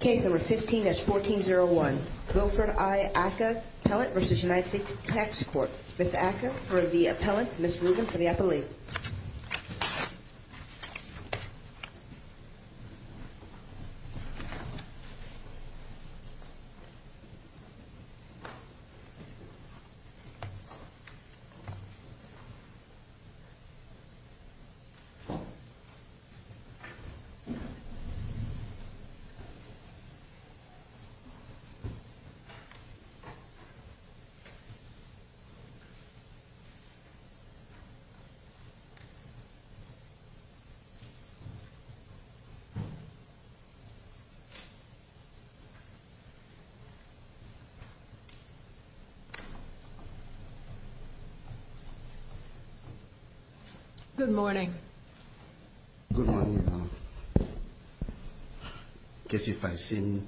Case number 15-1401. Wilfred I. Aka, Appellant v. United States Tax Court. Ms. Aka for the Appellant, Ms. Rubin for the Appellee. Good morning. Good morning, ma'am. I guess if I seem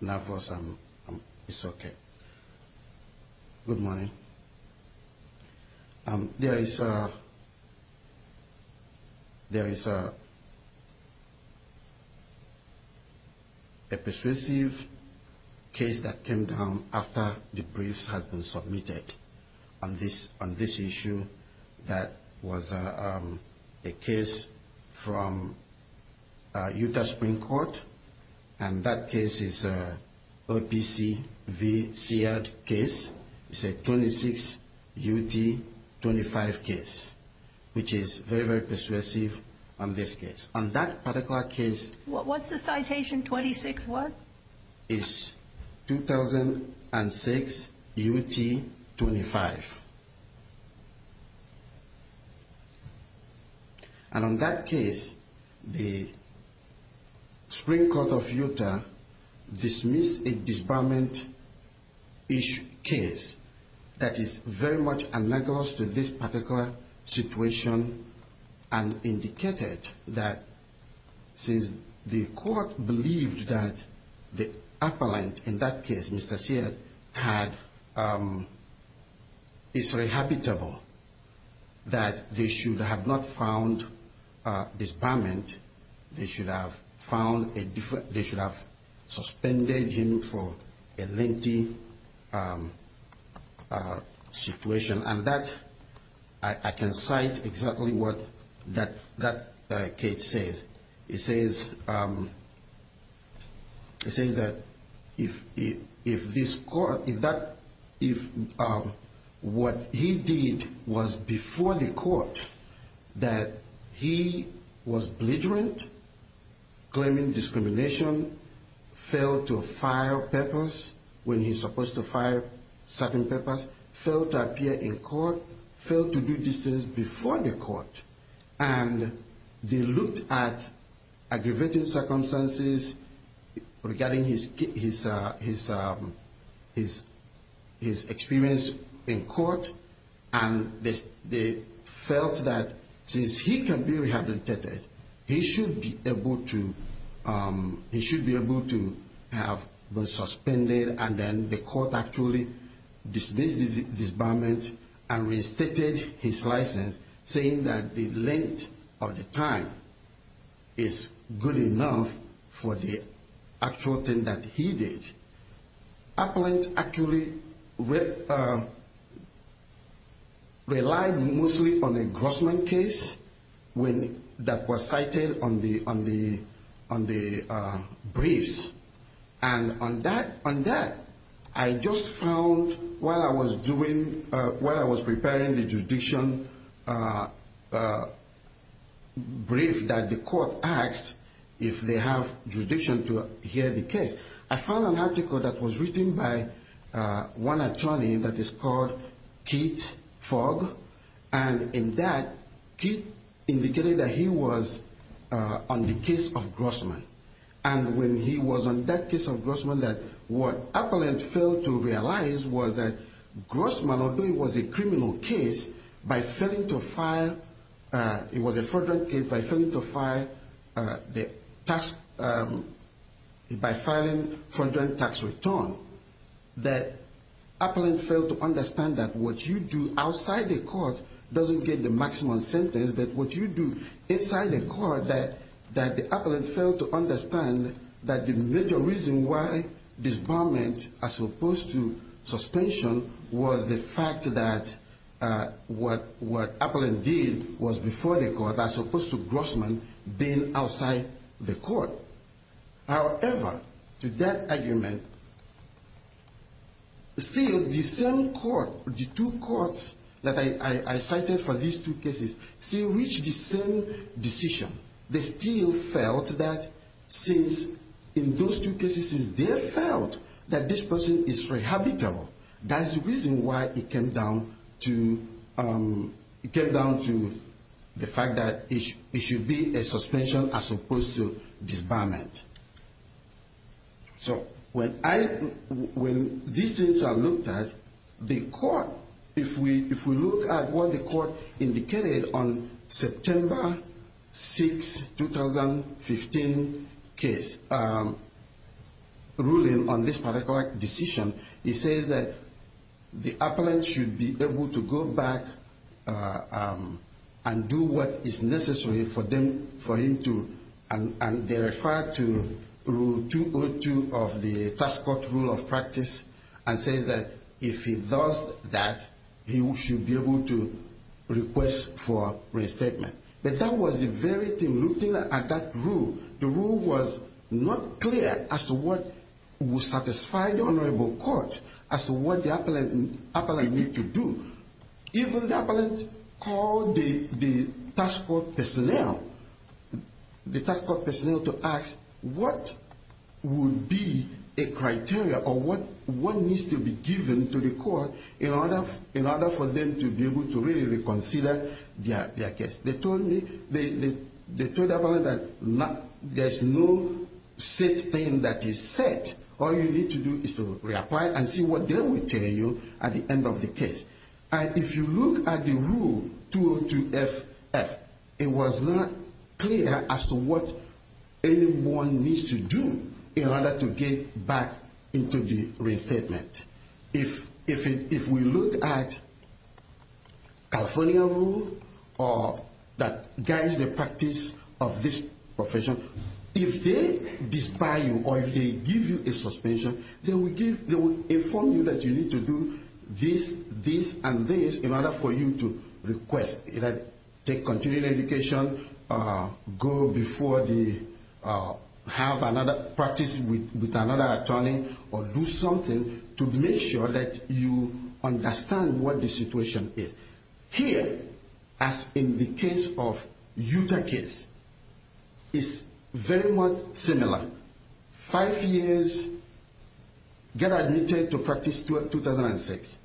nervous, it's okay. Good morning. There is a persuasive case that came down after the briefs had been submitted on this issue that was a case from Utah Supreme Court. And that case is a OPC v. Sead case. It's a 2006 U.T. 25 case, which is very, very persuasive on this case. On that particular case... What's the citation, 26 what? That is 2006 U.T. 25. And on that case, the Supreme Court of Utah dismissed a disbarment-ish case that is very much analogous to this particular situation and indicated that since the court believed that the appellant in that case, Mr. Sead, is rehabitable, that they should have not found disbarment. They should have suspended him for a lengthy situation. And that, I can cite exactly what that case says. It says that if what he did was before the court, that he was belligerent, claiming discrimination, failed to file papers when he's supposed to file certain papers, failed to appear in court, failed to do these things before the court, and they looked at aggravated circumstances regarding his experience in court, and they felt that since he can be rehabilitated, he should be able to have been suspended, and then the court actually dismissed the disbarment and reinstated his license, saying that the length of the time is good enough for the actual thing that he did. Appellant actually relied mostly on the Grossman case that was cited on the briefs. And on that, I just found while I was preparing the jurisdiction brief that the court asked if they have jurisdiction to hear the case, I found an article that was written by one attorney that is called Keith Fogg. And in that, Keith indicated that he was on the case of Grossman. And when he was on that case of Grossman, what Appellant failed to realize was that Grossman, although it was a criminal case, by failing to file, it was a fraudulent case, by failing to file the tax, by filing fraudulent tax return, that Appellant failed to understand that what you do outside the court doesn't get the maximum sentence, but what you do inside the court, that Appellant failed to understand that the major reason why disbarment as opposed to suspension was the fact that what Appellant did was before the court, as opposed to Grossman being outside the court. However, to that argument, still the same court, the two courts that I cited for these two cases, still reached the same decision. They still felt that since in those two cases they felt that this person is rehabilitable, that's the reason why it came down to the fact that it should be a suspension as opposed to disbarment. So when I... When these things are looked at, if we look at what the court indicated on September 6, 2015 case ruling on this particular decision, it says that the appellant should be able to go back and do what is necessary for them to... And they refer to Rule 202 of the Task Force Rule of Practice and say that if he does that, he should be able to request for restatement. But that was the very thing. Looking at that rule, the rule was not clear as to what would satisfy the Honorable Court as to what the appellant need to do. Even the appellant called the task force personnel to ask what would be a criteria or what needs to be given to the court in order for them to be able to really reconsider their case. They told me... They told the appellant that there's no set thing that is set. All you need to do is to reapply and see what they will tell you at the end of the case. And if you look at the Rule 202-FF, it was not clear as to what anyone needs to do in order to get back into the restatement. If we look at the California Rule that guides the practice of this profession, if they despise you or if they give you a suspension, they will inform you that you need to do this, this, and this in order for you to request. Take continuing education, go before the... Have another practice with another attorney or do something to make sure that you understand what the situation is. Here, as in the case of Utah case, it's very much similar. Five years, get admitted to practice 2006.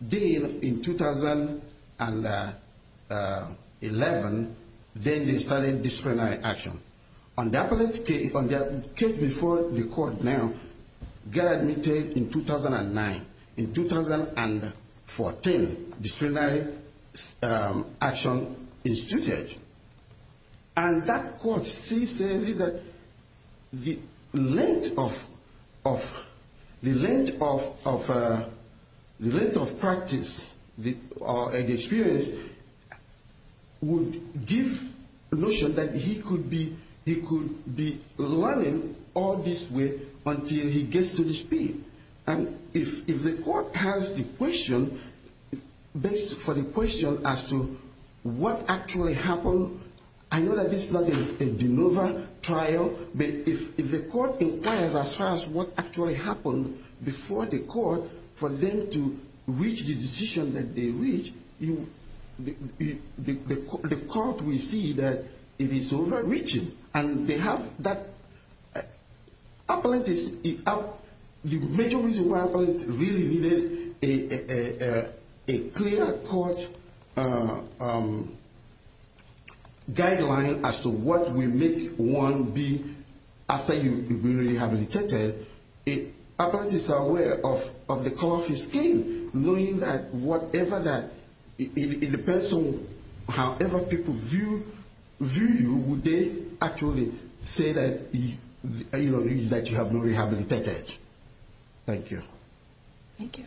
Then in 2011, then they started disciplinary action. On the appellant's case, on the case before the court now, get admitted in 2009. In 2014, disciplinary action instituted. And that court still says that the length of practice or the experience would give the notion that he could be learning all this way until he gets to the speed. And if the court has the question, based for the question as to what actually happened, I know that this is not a de novo trial, but if the court inquires as far as what actually happened before the court for them to reach the decision that they reached, the court will see that it is overreaching. And they have that... Appellant is... The major reason why appellant really needed a clear court guideline as to what will make one be... After you've been rehabilitated, appellant is aware of the color of his skin. Knowing that whatever that... It depends on however people view you, would they actually say that you have been rehabilitated? Thank you. Thank you.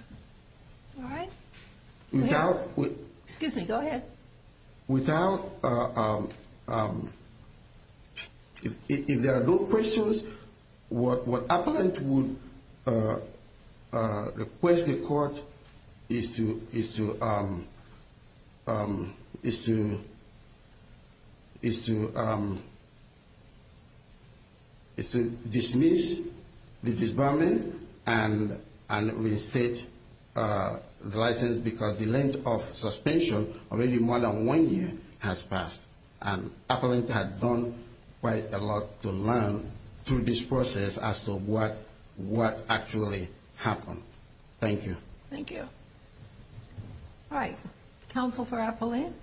All right. Go ahead. Excuse me, go ahead. Thank you. All right. Counsel for Appellant.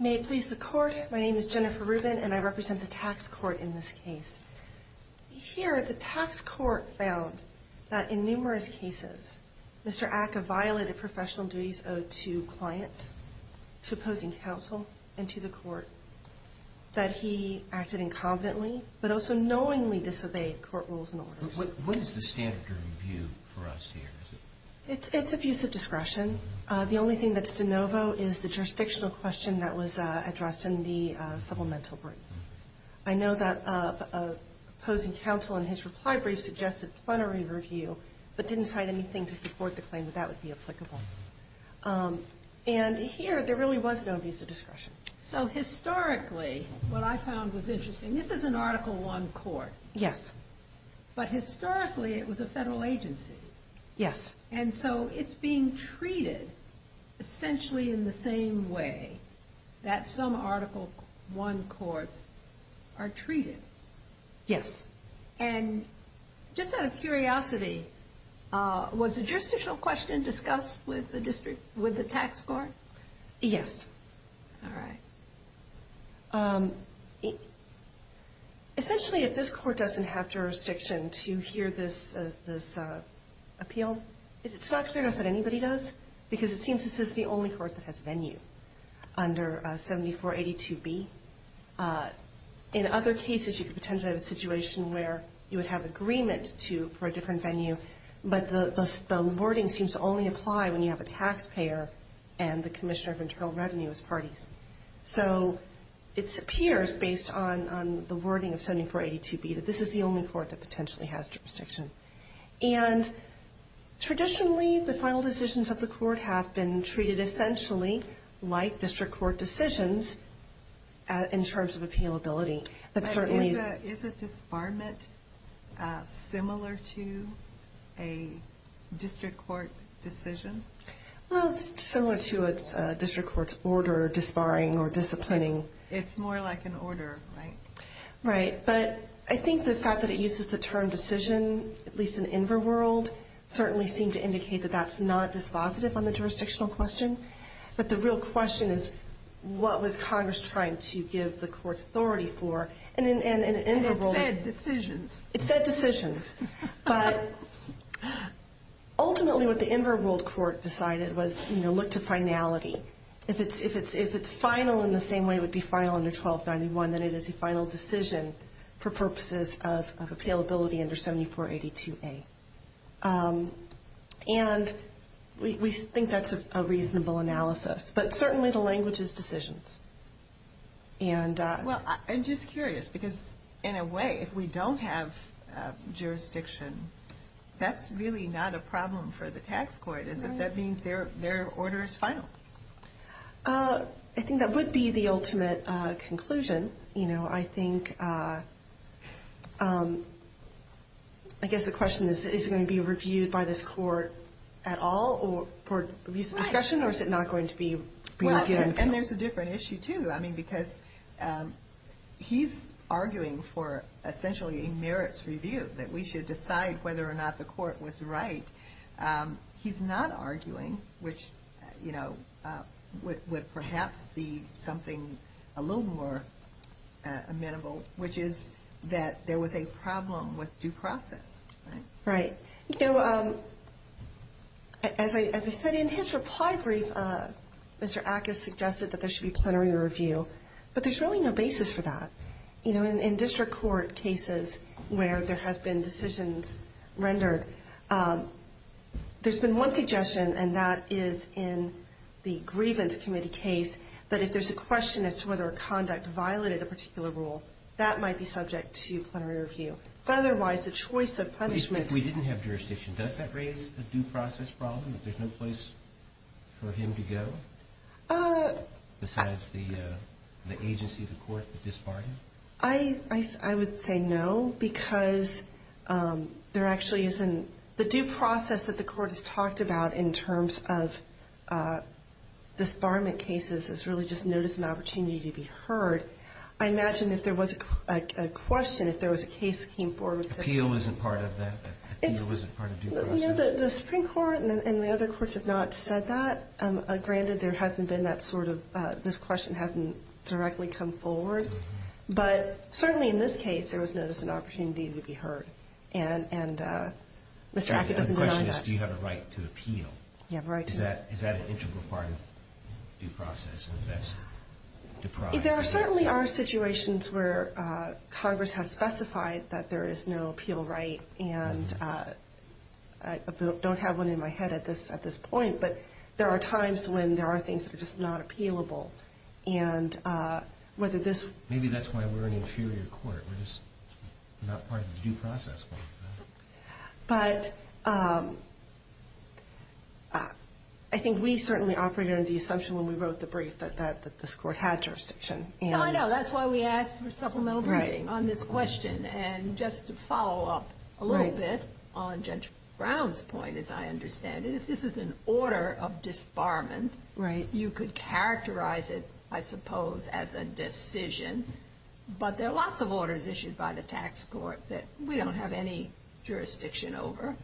May it please the court. My name is Jennifer Rubin, and I represent the tax court in this case. Here, the tax court found that in numerous cases, Mr. Aka violated professional duties owed to clients, to opposing counsel, and to the court, that he acted incompetently, but also knowingly disobeyed court rules and orders. What is the standard of review for us here? It's abuse of discretion. The only thing that's de novo is the jurisdictional question that was addressed in the supplemental brief. I know that opposing counsel in his reply brief suggested plenary review, but didn't cite anything to support the claim that that would be applicable. And here, there really was no abuse of discretion. So historically, what I found was interesting, this is an Article I court. Yes. But historically, it was a federal agency. Yes. And so it's being treated essentially in the same way that some Article I courts are treated. Yes. And just out of curiosity, was the jurisdictional question discussed with the tax court? Yes. All right. Essentially, if this court doesn't have jurisdiction to hear this appeal, it's not clear to us that anybody does, because it seems this is the only court that has venue under 7482B. In other cases, you could potentially have a situation where you would have agreement for a different venue, but the wording seems to only apply when you have a taxpayer and the Commissioner of Internal Revenue as parties. So it appears, based on the wording of 7482B, that this is the only court that potentially has jurisdiction. And traditionally, the final decisions of the court have been treated essentially like district court decisions in terms of appealability. Is a disbarment similar to a district court decision? Well, it's similar to a district court's order disbarring or disciplining. It's more like an order, right? Right. But I think the fact that it uses the term decision, at least in Inverworld, certainly seemed to indicate that that's not dispositive on the jurisdictional question. But the real question is, what was Congress trying to give the court's authority for? It said decisions. It said decisions. But ultimately, what the Inverworld court decided was, you know, look to finality. If it's final in the same way it would be final under 1291, then it is a final decision for purposes of appealability under 7482A. And we think that's a reasonable analysis. But certainly the language is decisions. Well, I'm just curious, because in a way, if we don't have jurisdiction, that's really not a problem for the tax court, is it? That means their order is final. I think that would be the ultimate conclusion. You know, I think, I guess the question is, is it going to be reviewed by this court at all for discretion, or is it not going to be reviewed? And there's a different issue, too. I mean, because he's arguing for essentially a merits review, that we should decide whether or not the court was right. He's not arguing, which, you know, would perhaps be something a little more amenable, which is that there was a problem with due process, right? Right. You know, as I said, in his reply brief, Mr. Ackes suggested that there should be plenary review. But there's really no basis for that. You know, in district court cases where there has been decisions rendered, there's been one suggestion, and that is in the grievance committee case, that if there's a question as to whether a conduct violated a particular rule, that might be subject to plenary review. But otherwise, the choice of punishment — But if we didn't have jurisdiction, does that raise the due process problem, that there's no place for him to go besides the agency of the court that disbarred him? I would say no, because there actually isn't — the due process that the court has talked about in terms of disbarment cases is really just notice and opportunity to be heard. I imagine if there was a question, if there was a case that came forward — Appeal isn't part of that? Appeal isn't part of due process? The Supreme Court and the other courts have not said that. Granted, there hasn't been that sort of — this question hasn't directly come forward. But certainly in this case, there was notice and opportunity to be heard. And Mr. Hackett doesn't deny that. The question is, do you have a right to appeal? You have a right to appeal. Is that an integral part of due process? There certainly are situations where Congress has specified that there is no appeal right. And I don't have one in my head at this point. But there are times when there are things that are just not appealable. And whether this — Maybe that's why we're an inferior court. We're just not part of the due process. But I think we certainly operated under the assumption when we wrote the brief that this court had jurisdiction. No, I know. That's why we asked for supplemental briefing on this question. And just to follow up a little bit on Judge Brown's point, as I understand it, if this is an order of disbarment, you could characterize it, I suppose, as a decision. But there are lots of orders issued by the tax court that we don't have any jurisdiction over.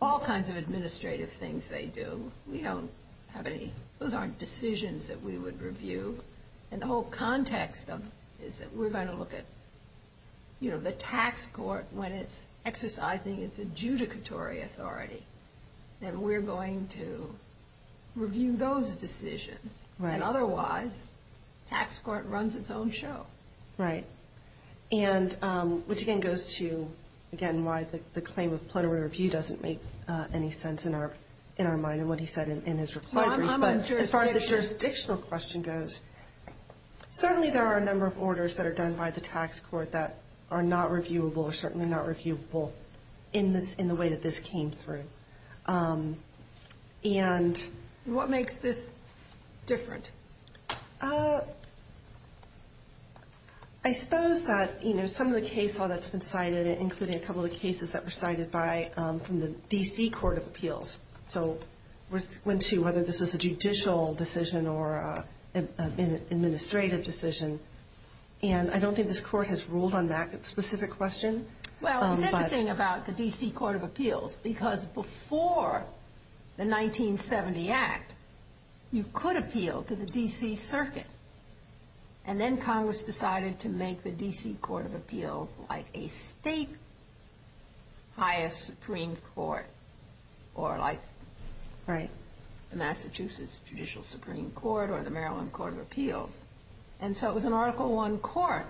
All kinds of administrative things they do. We don't have any — those aren't decisions that we would review. And the whole context of it is that we're going to look at, you know, the tax court when it's exercising its adjudicatory authority. And we're going to review those decisions. Right. And otherwise, the tax court runs its own show. Right. And which, again, goes to, again, why the claim of plenary review doesn't make any sense in our mind and what he said in his reply. As far as the jurisdictional question goes, certainly there are a number of orders that are done by the tax court that are not reviewable or certainly not reviewable in the way that this came through. And what makes this different? I suppose that, you know, some of the case law that's been cited, including a couple of cases that were cited from the D.C. Court of Appeals. So we went to whether this is a judicial decision or an administrative decision. And I don't think this court has ruled on that specific question. Well, it's interesting about the D.C. Court of Appeals because before the 1970 Act, you could appeal to the D.C. Circuit. And then Congress decided to make the D.C. Court of Appeals like a state highest Supreme Court or like the Massachusetts Judicial Supreme Court or the Maryland Court of Appeals. And so it was an Article I court.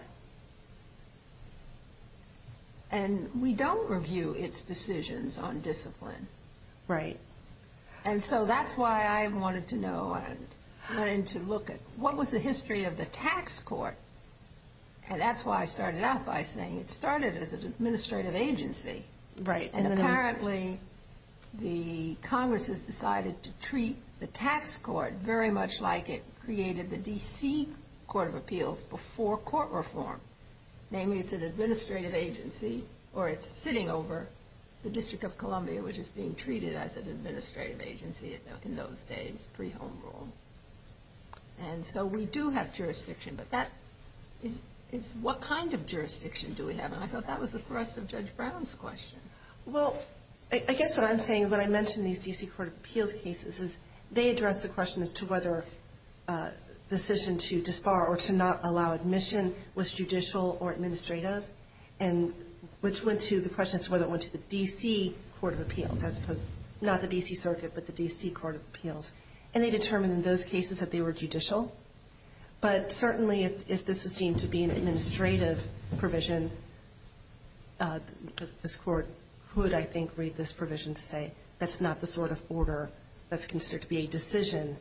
And we don't review its decisions on discipline. Right. And so that's why I wanted to know and wanted to look at what was the history of the tax court. And that's why I started out by saying it started as an administrative agency. Right. And apparently the Congress has decided to treat the tax court very much like it created the D.C. Court of Appeals before court reform, namely it's an administrative agency or it's sitting over the District of Columbia, which is being treated as an administrative agency in those days, pre-home rule. And so we do have jurisdiction, but that is what kind of jurisdiction do we have? I thought that was the thrust of Judge Brown's question. Well, I guess what I'm saying is when I mention these D.C. Court of Appeals cases is they address the question as to whether a decision to disbar or to not allow admission was judicial or administrative, and which went to the question as to whether it went to the D.C. Court of Appeals, as opposed to not the D.C. Circuit but the D.C. Court of Appeals. And they determined in those cases that they were judicial. But certainly if this is deemed to be an administrative provision, this court could, I think, read this provision to say that's not the sort of order that's considered to be a decision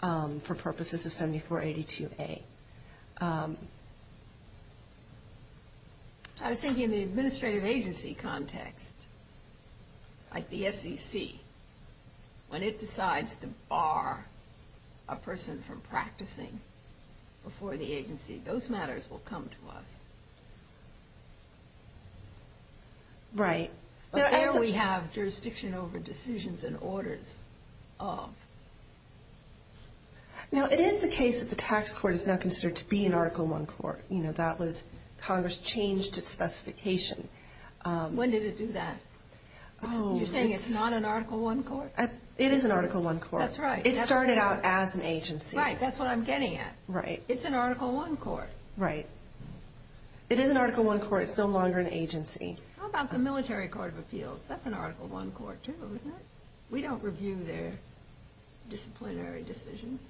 for purposes of 7482A. I was thinking the administrative agency context, like the SEC, when it decides to bar a person from practicing before the agency, those matters will come to us. Right. But there we have jurisdiction over decisions and orders of. Now, it is the case that the tax court is now considered to be an Article I court. You know, that was Congress changed its specification. When did it do that? You're saying it's not an Article I court? It is an Article I court. That's right. It started out as an agency. Right, that's what I'm getting at. Right. It's an Article I court. Right. It is an Article I court. It's no longer an agency. How about the Military Court of Appeals? That's an Article I court, too, isn't it? We don't review their disciplinary decisions.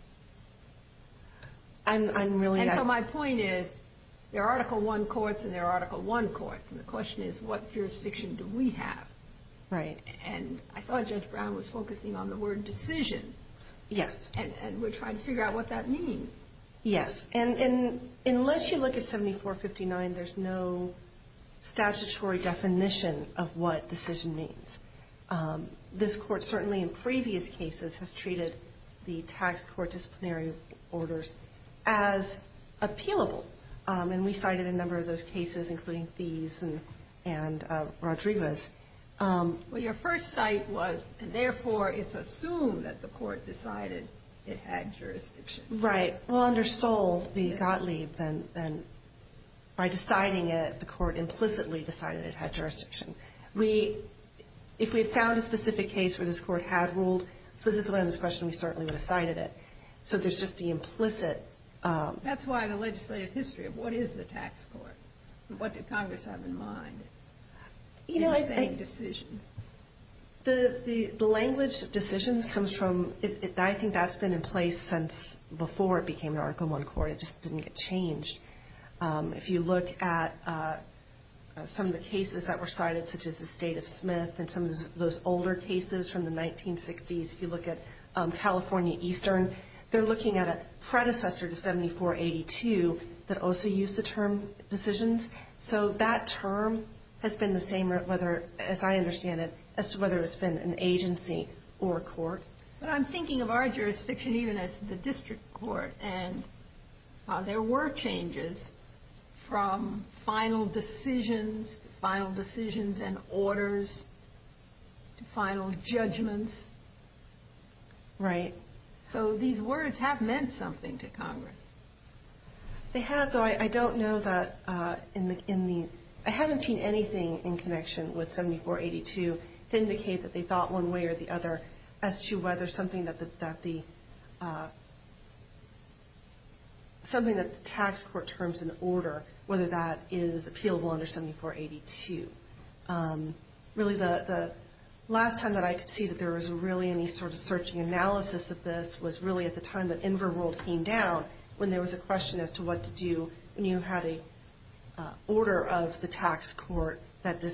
I'm really not. And so my point is, there are Article I courts and there are Article I courts. And the question is, what jurisdiction do we have? Right. And I thought Judge Brown was focusing on the word decision. Yes. And we're trying to figure out what that means. Yes. And unless you look at 7459, there's no statutory definition of what decision means. This court, certainly in previous cases, has treated the tax court disciplinary orders as appealable. And we cited a number of those cases, including these and Rodriguez. Well, your first cite was, and therefore it's assumed that the court decided it had jurisdiction. Right. Well, under Stoll, we got leave, and by deciding it, the court implicitly decided it had jurisdiction. If we had found a specific case where this court had ruled specifically on this question, we certainly would have cited it. So there's just the implicit. That's why the legislative history of what is the tax court, what did Congress have in mind in saying decisions? The language decisions comes from, I think that's been in place since before it became an Article I court. It just didn't get changed. If you look at some of the cases that were cited, such as the State of Smith and some of those older cases from the 1960s, if you look at California Eastern, they're looking at a predecessor to 7482 that also used the term decisions. So that term has been the same, as I understand it, as to whether it's been an agency or a court. But I'm thinking of our jurisdiction even as the district court, and there were changes from final decisions, final decisions and orders, to final judgments. Right. So these words have meant something to Congress. They have, though I don't know that in the, I haven't seen anything in connection with 7482 to indicate that they thought one way or the other as to whether something that the tax court terms an order, whether that is appealable under 7482. Really the last time that I could see that there was really any sort of searching analysis of this was really at the time that Inver World came down, when there was a question as to what to do when you had an order of the tax court that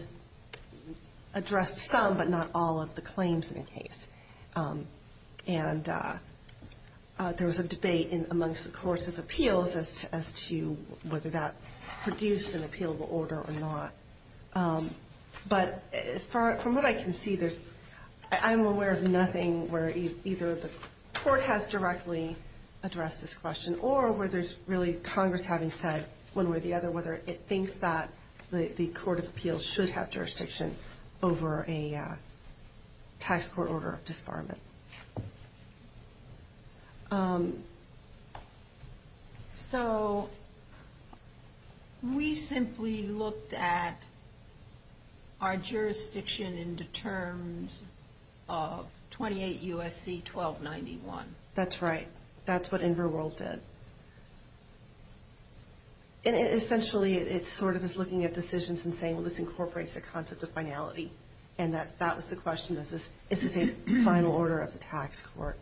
addressed some but not all of the claims in a case. And there was a debate amongst the courts of appeals as to whether that produced an appealable order or not. But from what I can see, I'm aware of nothing where either the court has directly addressed this question or where there's really Congress having said one way or the other, whether it thinks that the court of appeals should have jurisdiction over a tax court order of disbarment. So we simply looked at our jurisdiction into terms of 28 U.S.C. 1291. That's right. That's what Inver World did. And essentially, it's sort of just looking at decisions and saying, well, this incorporates the concept of finality. And that was the question, is this a final order of the tax court?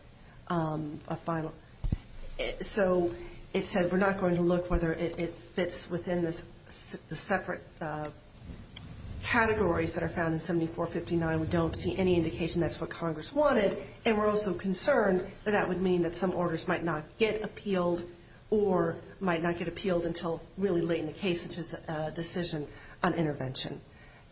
So it said we're not going to look whether it fits within the separate categories that are found in 7459. We don't see any indication that's what Congress wanted. And we're also concerned that that would mean that some orders might not get appealed or might not get appealed until really late in the case, which is a decision on intervention.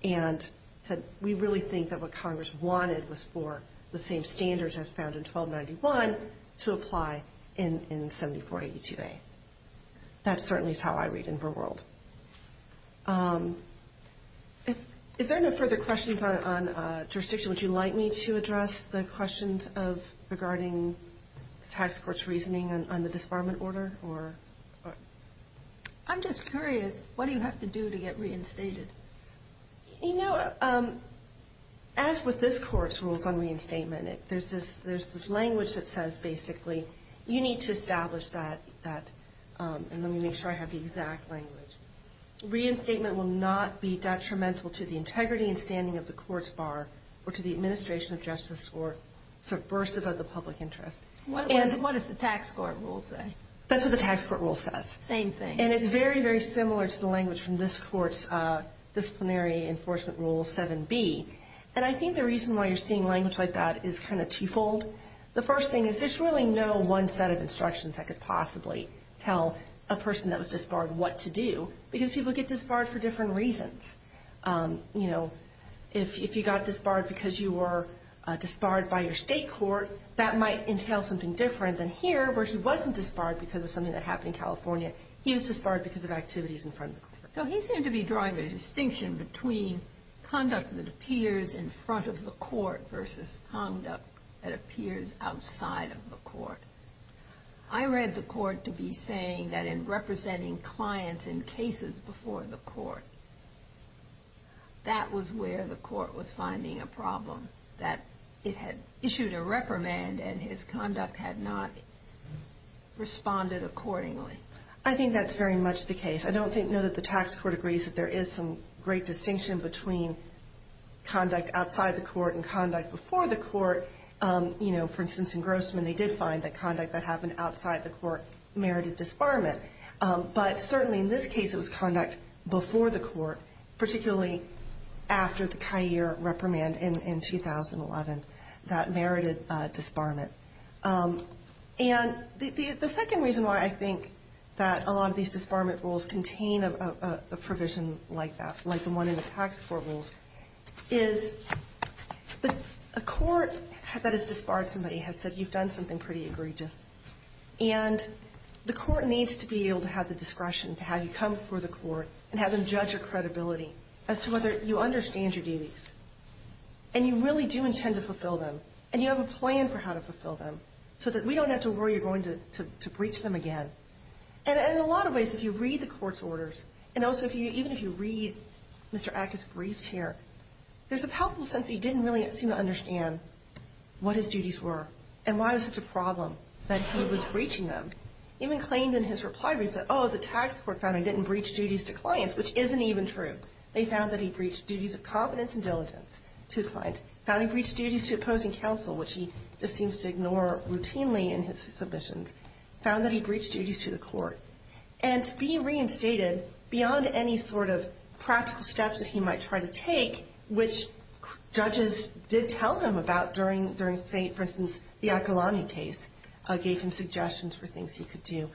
And it said we really think that what Congress wanted was for the same standards as found in 1291 to apply in 7482A. That certainly is how I read Inver World. If there are no further questions on jurisdiction, would you like me to address the questions of regarding the tax court's reasoning on the disbarment order? I'm just curious, what do you have to do to get reinstated? You know, as with this Court's rules on reinstatement, there's this language that says, basically, you need to establish that, and let me make sure I have the exact language. Reinstatement will not be detrimental to the integrity and standing of the Court's bar or to the administration of justice or subversive of the public interest. What does the tax court rule say? That's what the tax court rule says. Same thing. And it's very, very similar to the language from this Court's disciplinary enforcement rule 7B. And I think the reason why you're seeing language like that is kind of twofold. The first thing is there's really no one set of instructions that could possibly tell a person that was disbarred what to do because people get disbarred for different reasons. You know, if you got disbarred because you were disbarred by your state court, that might entail something different than here where he wasn't disbarred because of something that happened in California. He was disbarred because of activities in front of the court. outside of the court. I read the court to be saying that in representing clients in cases before the court, that was where the court was finding a problem, that it had issued a reprimand and his conduct had not responded accordingly. I think that's very much the case. I don't think, no, that the tax court agrees that there is some great distinction between conduct outside the court and conduct before the court. You know, for instance, in Grossman, they did find that conduct that happened outside the court merited disbarment. But certainly in this case, it was conduct before the court, particularly after the CAIR reprimand in 2011 that merited disbarment. And the second reason why I think that a lot of these disbarment rules contain a provision like that, like the one in the tax court rules, is a court that has disbarred somebody has said you've done something pretty egregious. And the court needs to be able to have the discretion to have you come before the court and have them judge your credibility as to whether you understand your duties and you really do intend to fulfill them and you have a plan for how to fulfill them so that we don't have to worry you're going to breach them again. And in a lot of ways, if you read the court's orders, and also even if you read Mr. Acker's briefs here, there's a powerful sense that he didn't really seem to understand what his duties were and why it was such a problem that he was breaching them. He even claimed in his reply brief that, oh, the tax court found he didn't breach duties to clients, which isn't even true. They found that he breached duties of competence and diligence to a client, found he breached duties to opposing counsel, which he just seems to ignore routinely in his submissions, found that he breached duties to the court. And to be reinstated beyond any sort of practical steps that he might try to take, which judges did tell him about during, say, for instance, the Akolani case, gave him suggestions for things he could do.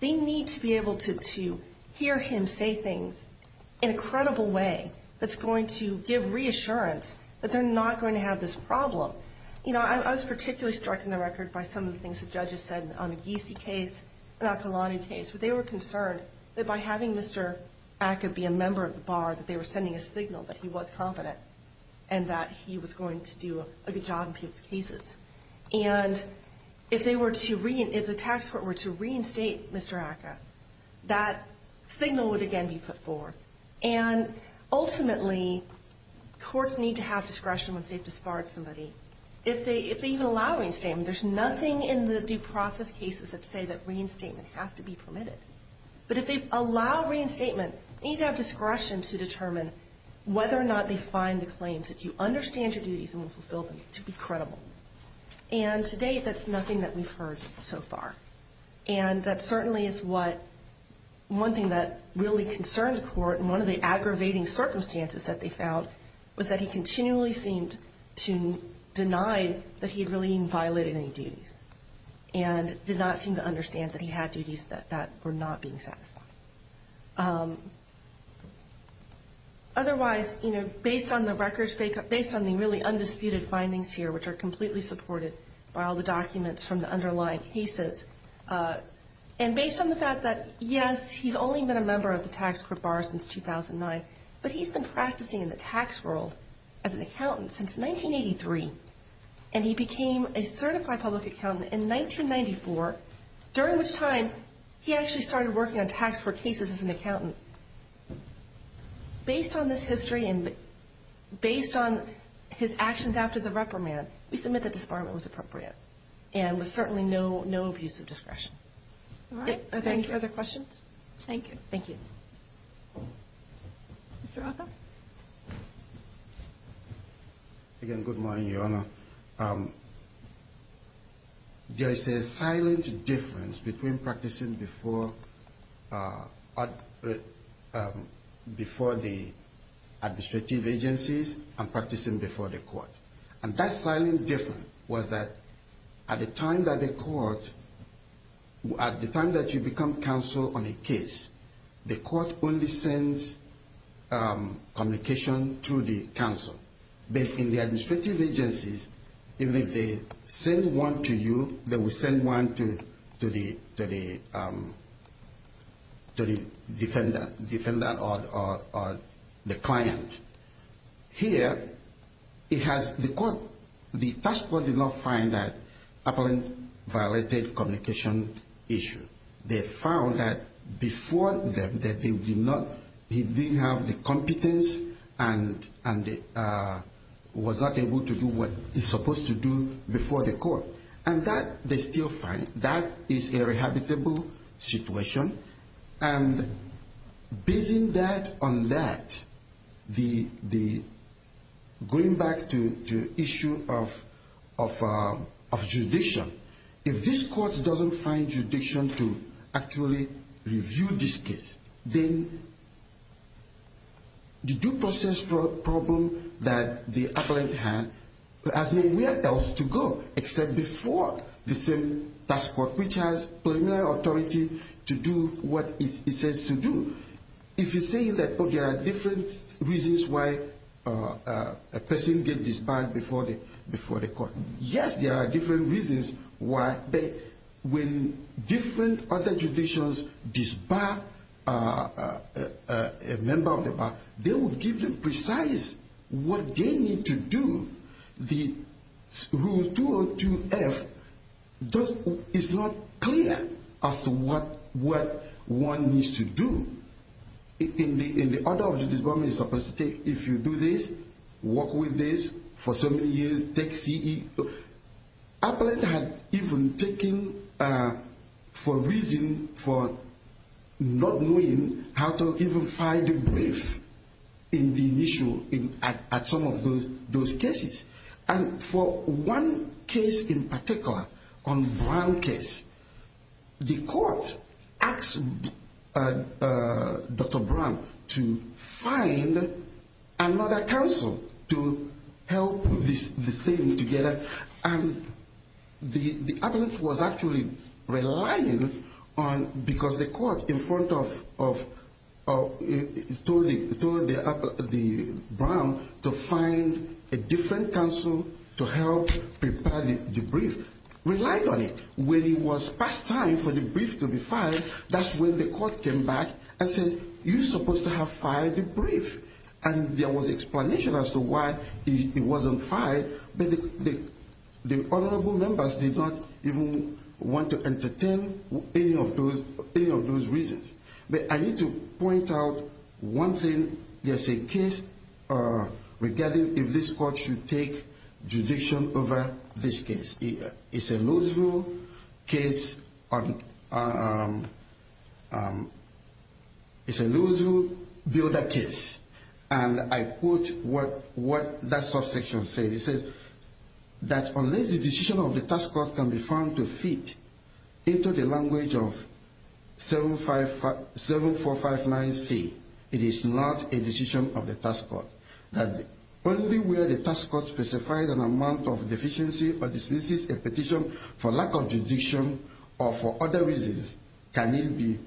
They need to be able to hear him say things in a credible way that's going to give reassurance that they're not going to have this problem. So, you know, I was particularly struck in the record by some of the things the judges said on the Giese case, the Akolani case, where they were concerned that by having Mr. Acker be a member of the bar, that they were sending a signal that he was competent and that he was going to do a good job in people's cases. And if the tax court were to reinstate Mr. Acker, that signal would again be put forth. And ultimately, courts need to have discretion once they've disbarred somebody. If they even allow reinstatement, there's nothing in the due process cases that say that reinstatement has to be permitted. But if they allow reinstatement, they need to have discretion to determine whether or not they find the claims, if you understand your duties and will fulfill them, to be credible. And to date, that's nothing that we've heard so far. And that certainly is what one thing that really concerned the court, and one of the aggravating circumstances that they found, was that he continually seemed to deny that he really violated any duties and did not seem to understand that he had duties that were not being satisfied. Otherwise, you know, based on the records, based on the really undisputed findings here, which are completely supported by all the documents from the underlying cases, and based on the fact that, yes, he's only been a member of the tax court bar since 2009, but he's been practicing in the tax world as an accountant since 1983. And he became a certified public accountant in 1994, during which time he actually started working on tax court cases as an accountant. Based on this history and based on his actions after the reprimand, we submit that disbarment was appropriate and was certainly no abuse of discretion. All right. Are there any further questions? Thank you. Thank you. Mr. Oka? Again, good morning, Your Honor. Your Honor, there is a silent difference between practicing before the administrative agencies and practicing before the court. And that silent difference was that at the time that the court, at the time that you become counsel on a case, the court only sends communication to the counsel. But in the administrative agencies, even if they send one to you, they will send one to the defender or the client. Here, it has the court, the tax court did not find that Appellant violated communication issue. They found that before that, that he did not, he didn't have the competence and was not able to do what he's supposed to do before the court. And that, they still find, that is a rehabitable situation. And based on that, going back to the issue of judicial, if this court doesn't find judicial to actually review this case, then the due process problem that the Appellant had has nowhere else to go except before the same tax court, which has preliminary authority to do what it says to do. If you say that, oh, there are different reasons why a person gets disbarred before the court, yes, there are different reasons why, but when different other judicials disbar a member of the bar, they will give you precise what they need to do. The Rule 202F is not clear as to what one needs to do. In the order of judicial disbarment, it's supposed to take, if you do this, work with this for so many years, take CE. Appellant had even taken for a reason for not knowing how to even file the brief in the initial, at some of those cases. And for one case in particular, on Brown case, the court asked Dr. Brown to find another counsel to help the same together. And the Appellant was actually relying on, because the court in front of, told the Brown to find a different counsel to help prepare the brief, relied on it. When it was past time for the brief to be filed, that's when the court came back and said, you're supposed to have filed the brief. And there was explanation as to why it wasn't filed, but the honorable members did not even want to entertain any of those reasons. But I need to point out one thing. There's a case regarding if this court should take judicial over this case. It's a Louisville case. It's a Louisville builder case. And I quote what that subsection says. It says that unless the decision of the task force can be found to fit into the language of 7459C, it is not a decision of the task force. Only where the task force specifies an amount of deficiency or dismisses a petition for lack of judicial or for other reasons can it be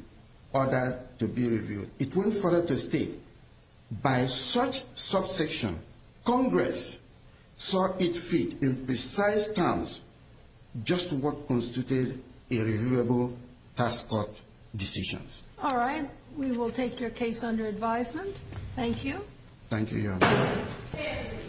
ordered to be reviewed. And it went further to state, by such subsection, Congress saw it fit in precise terms just what constituted a reviewable task court decision. All right. We will take your case under advisement. Thank you. Thank you, Your Honor.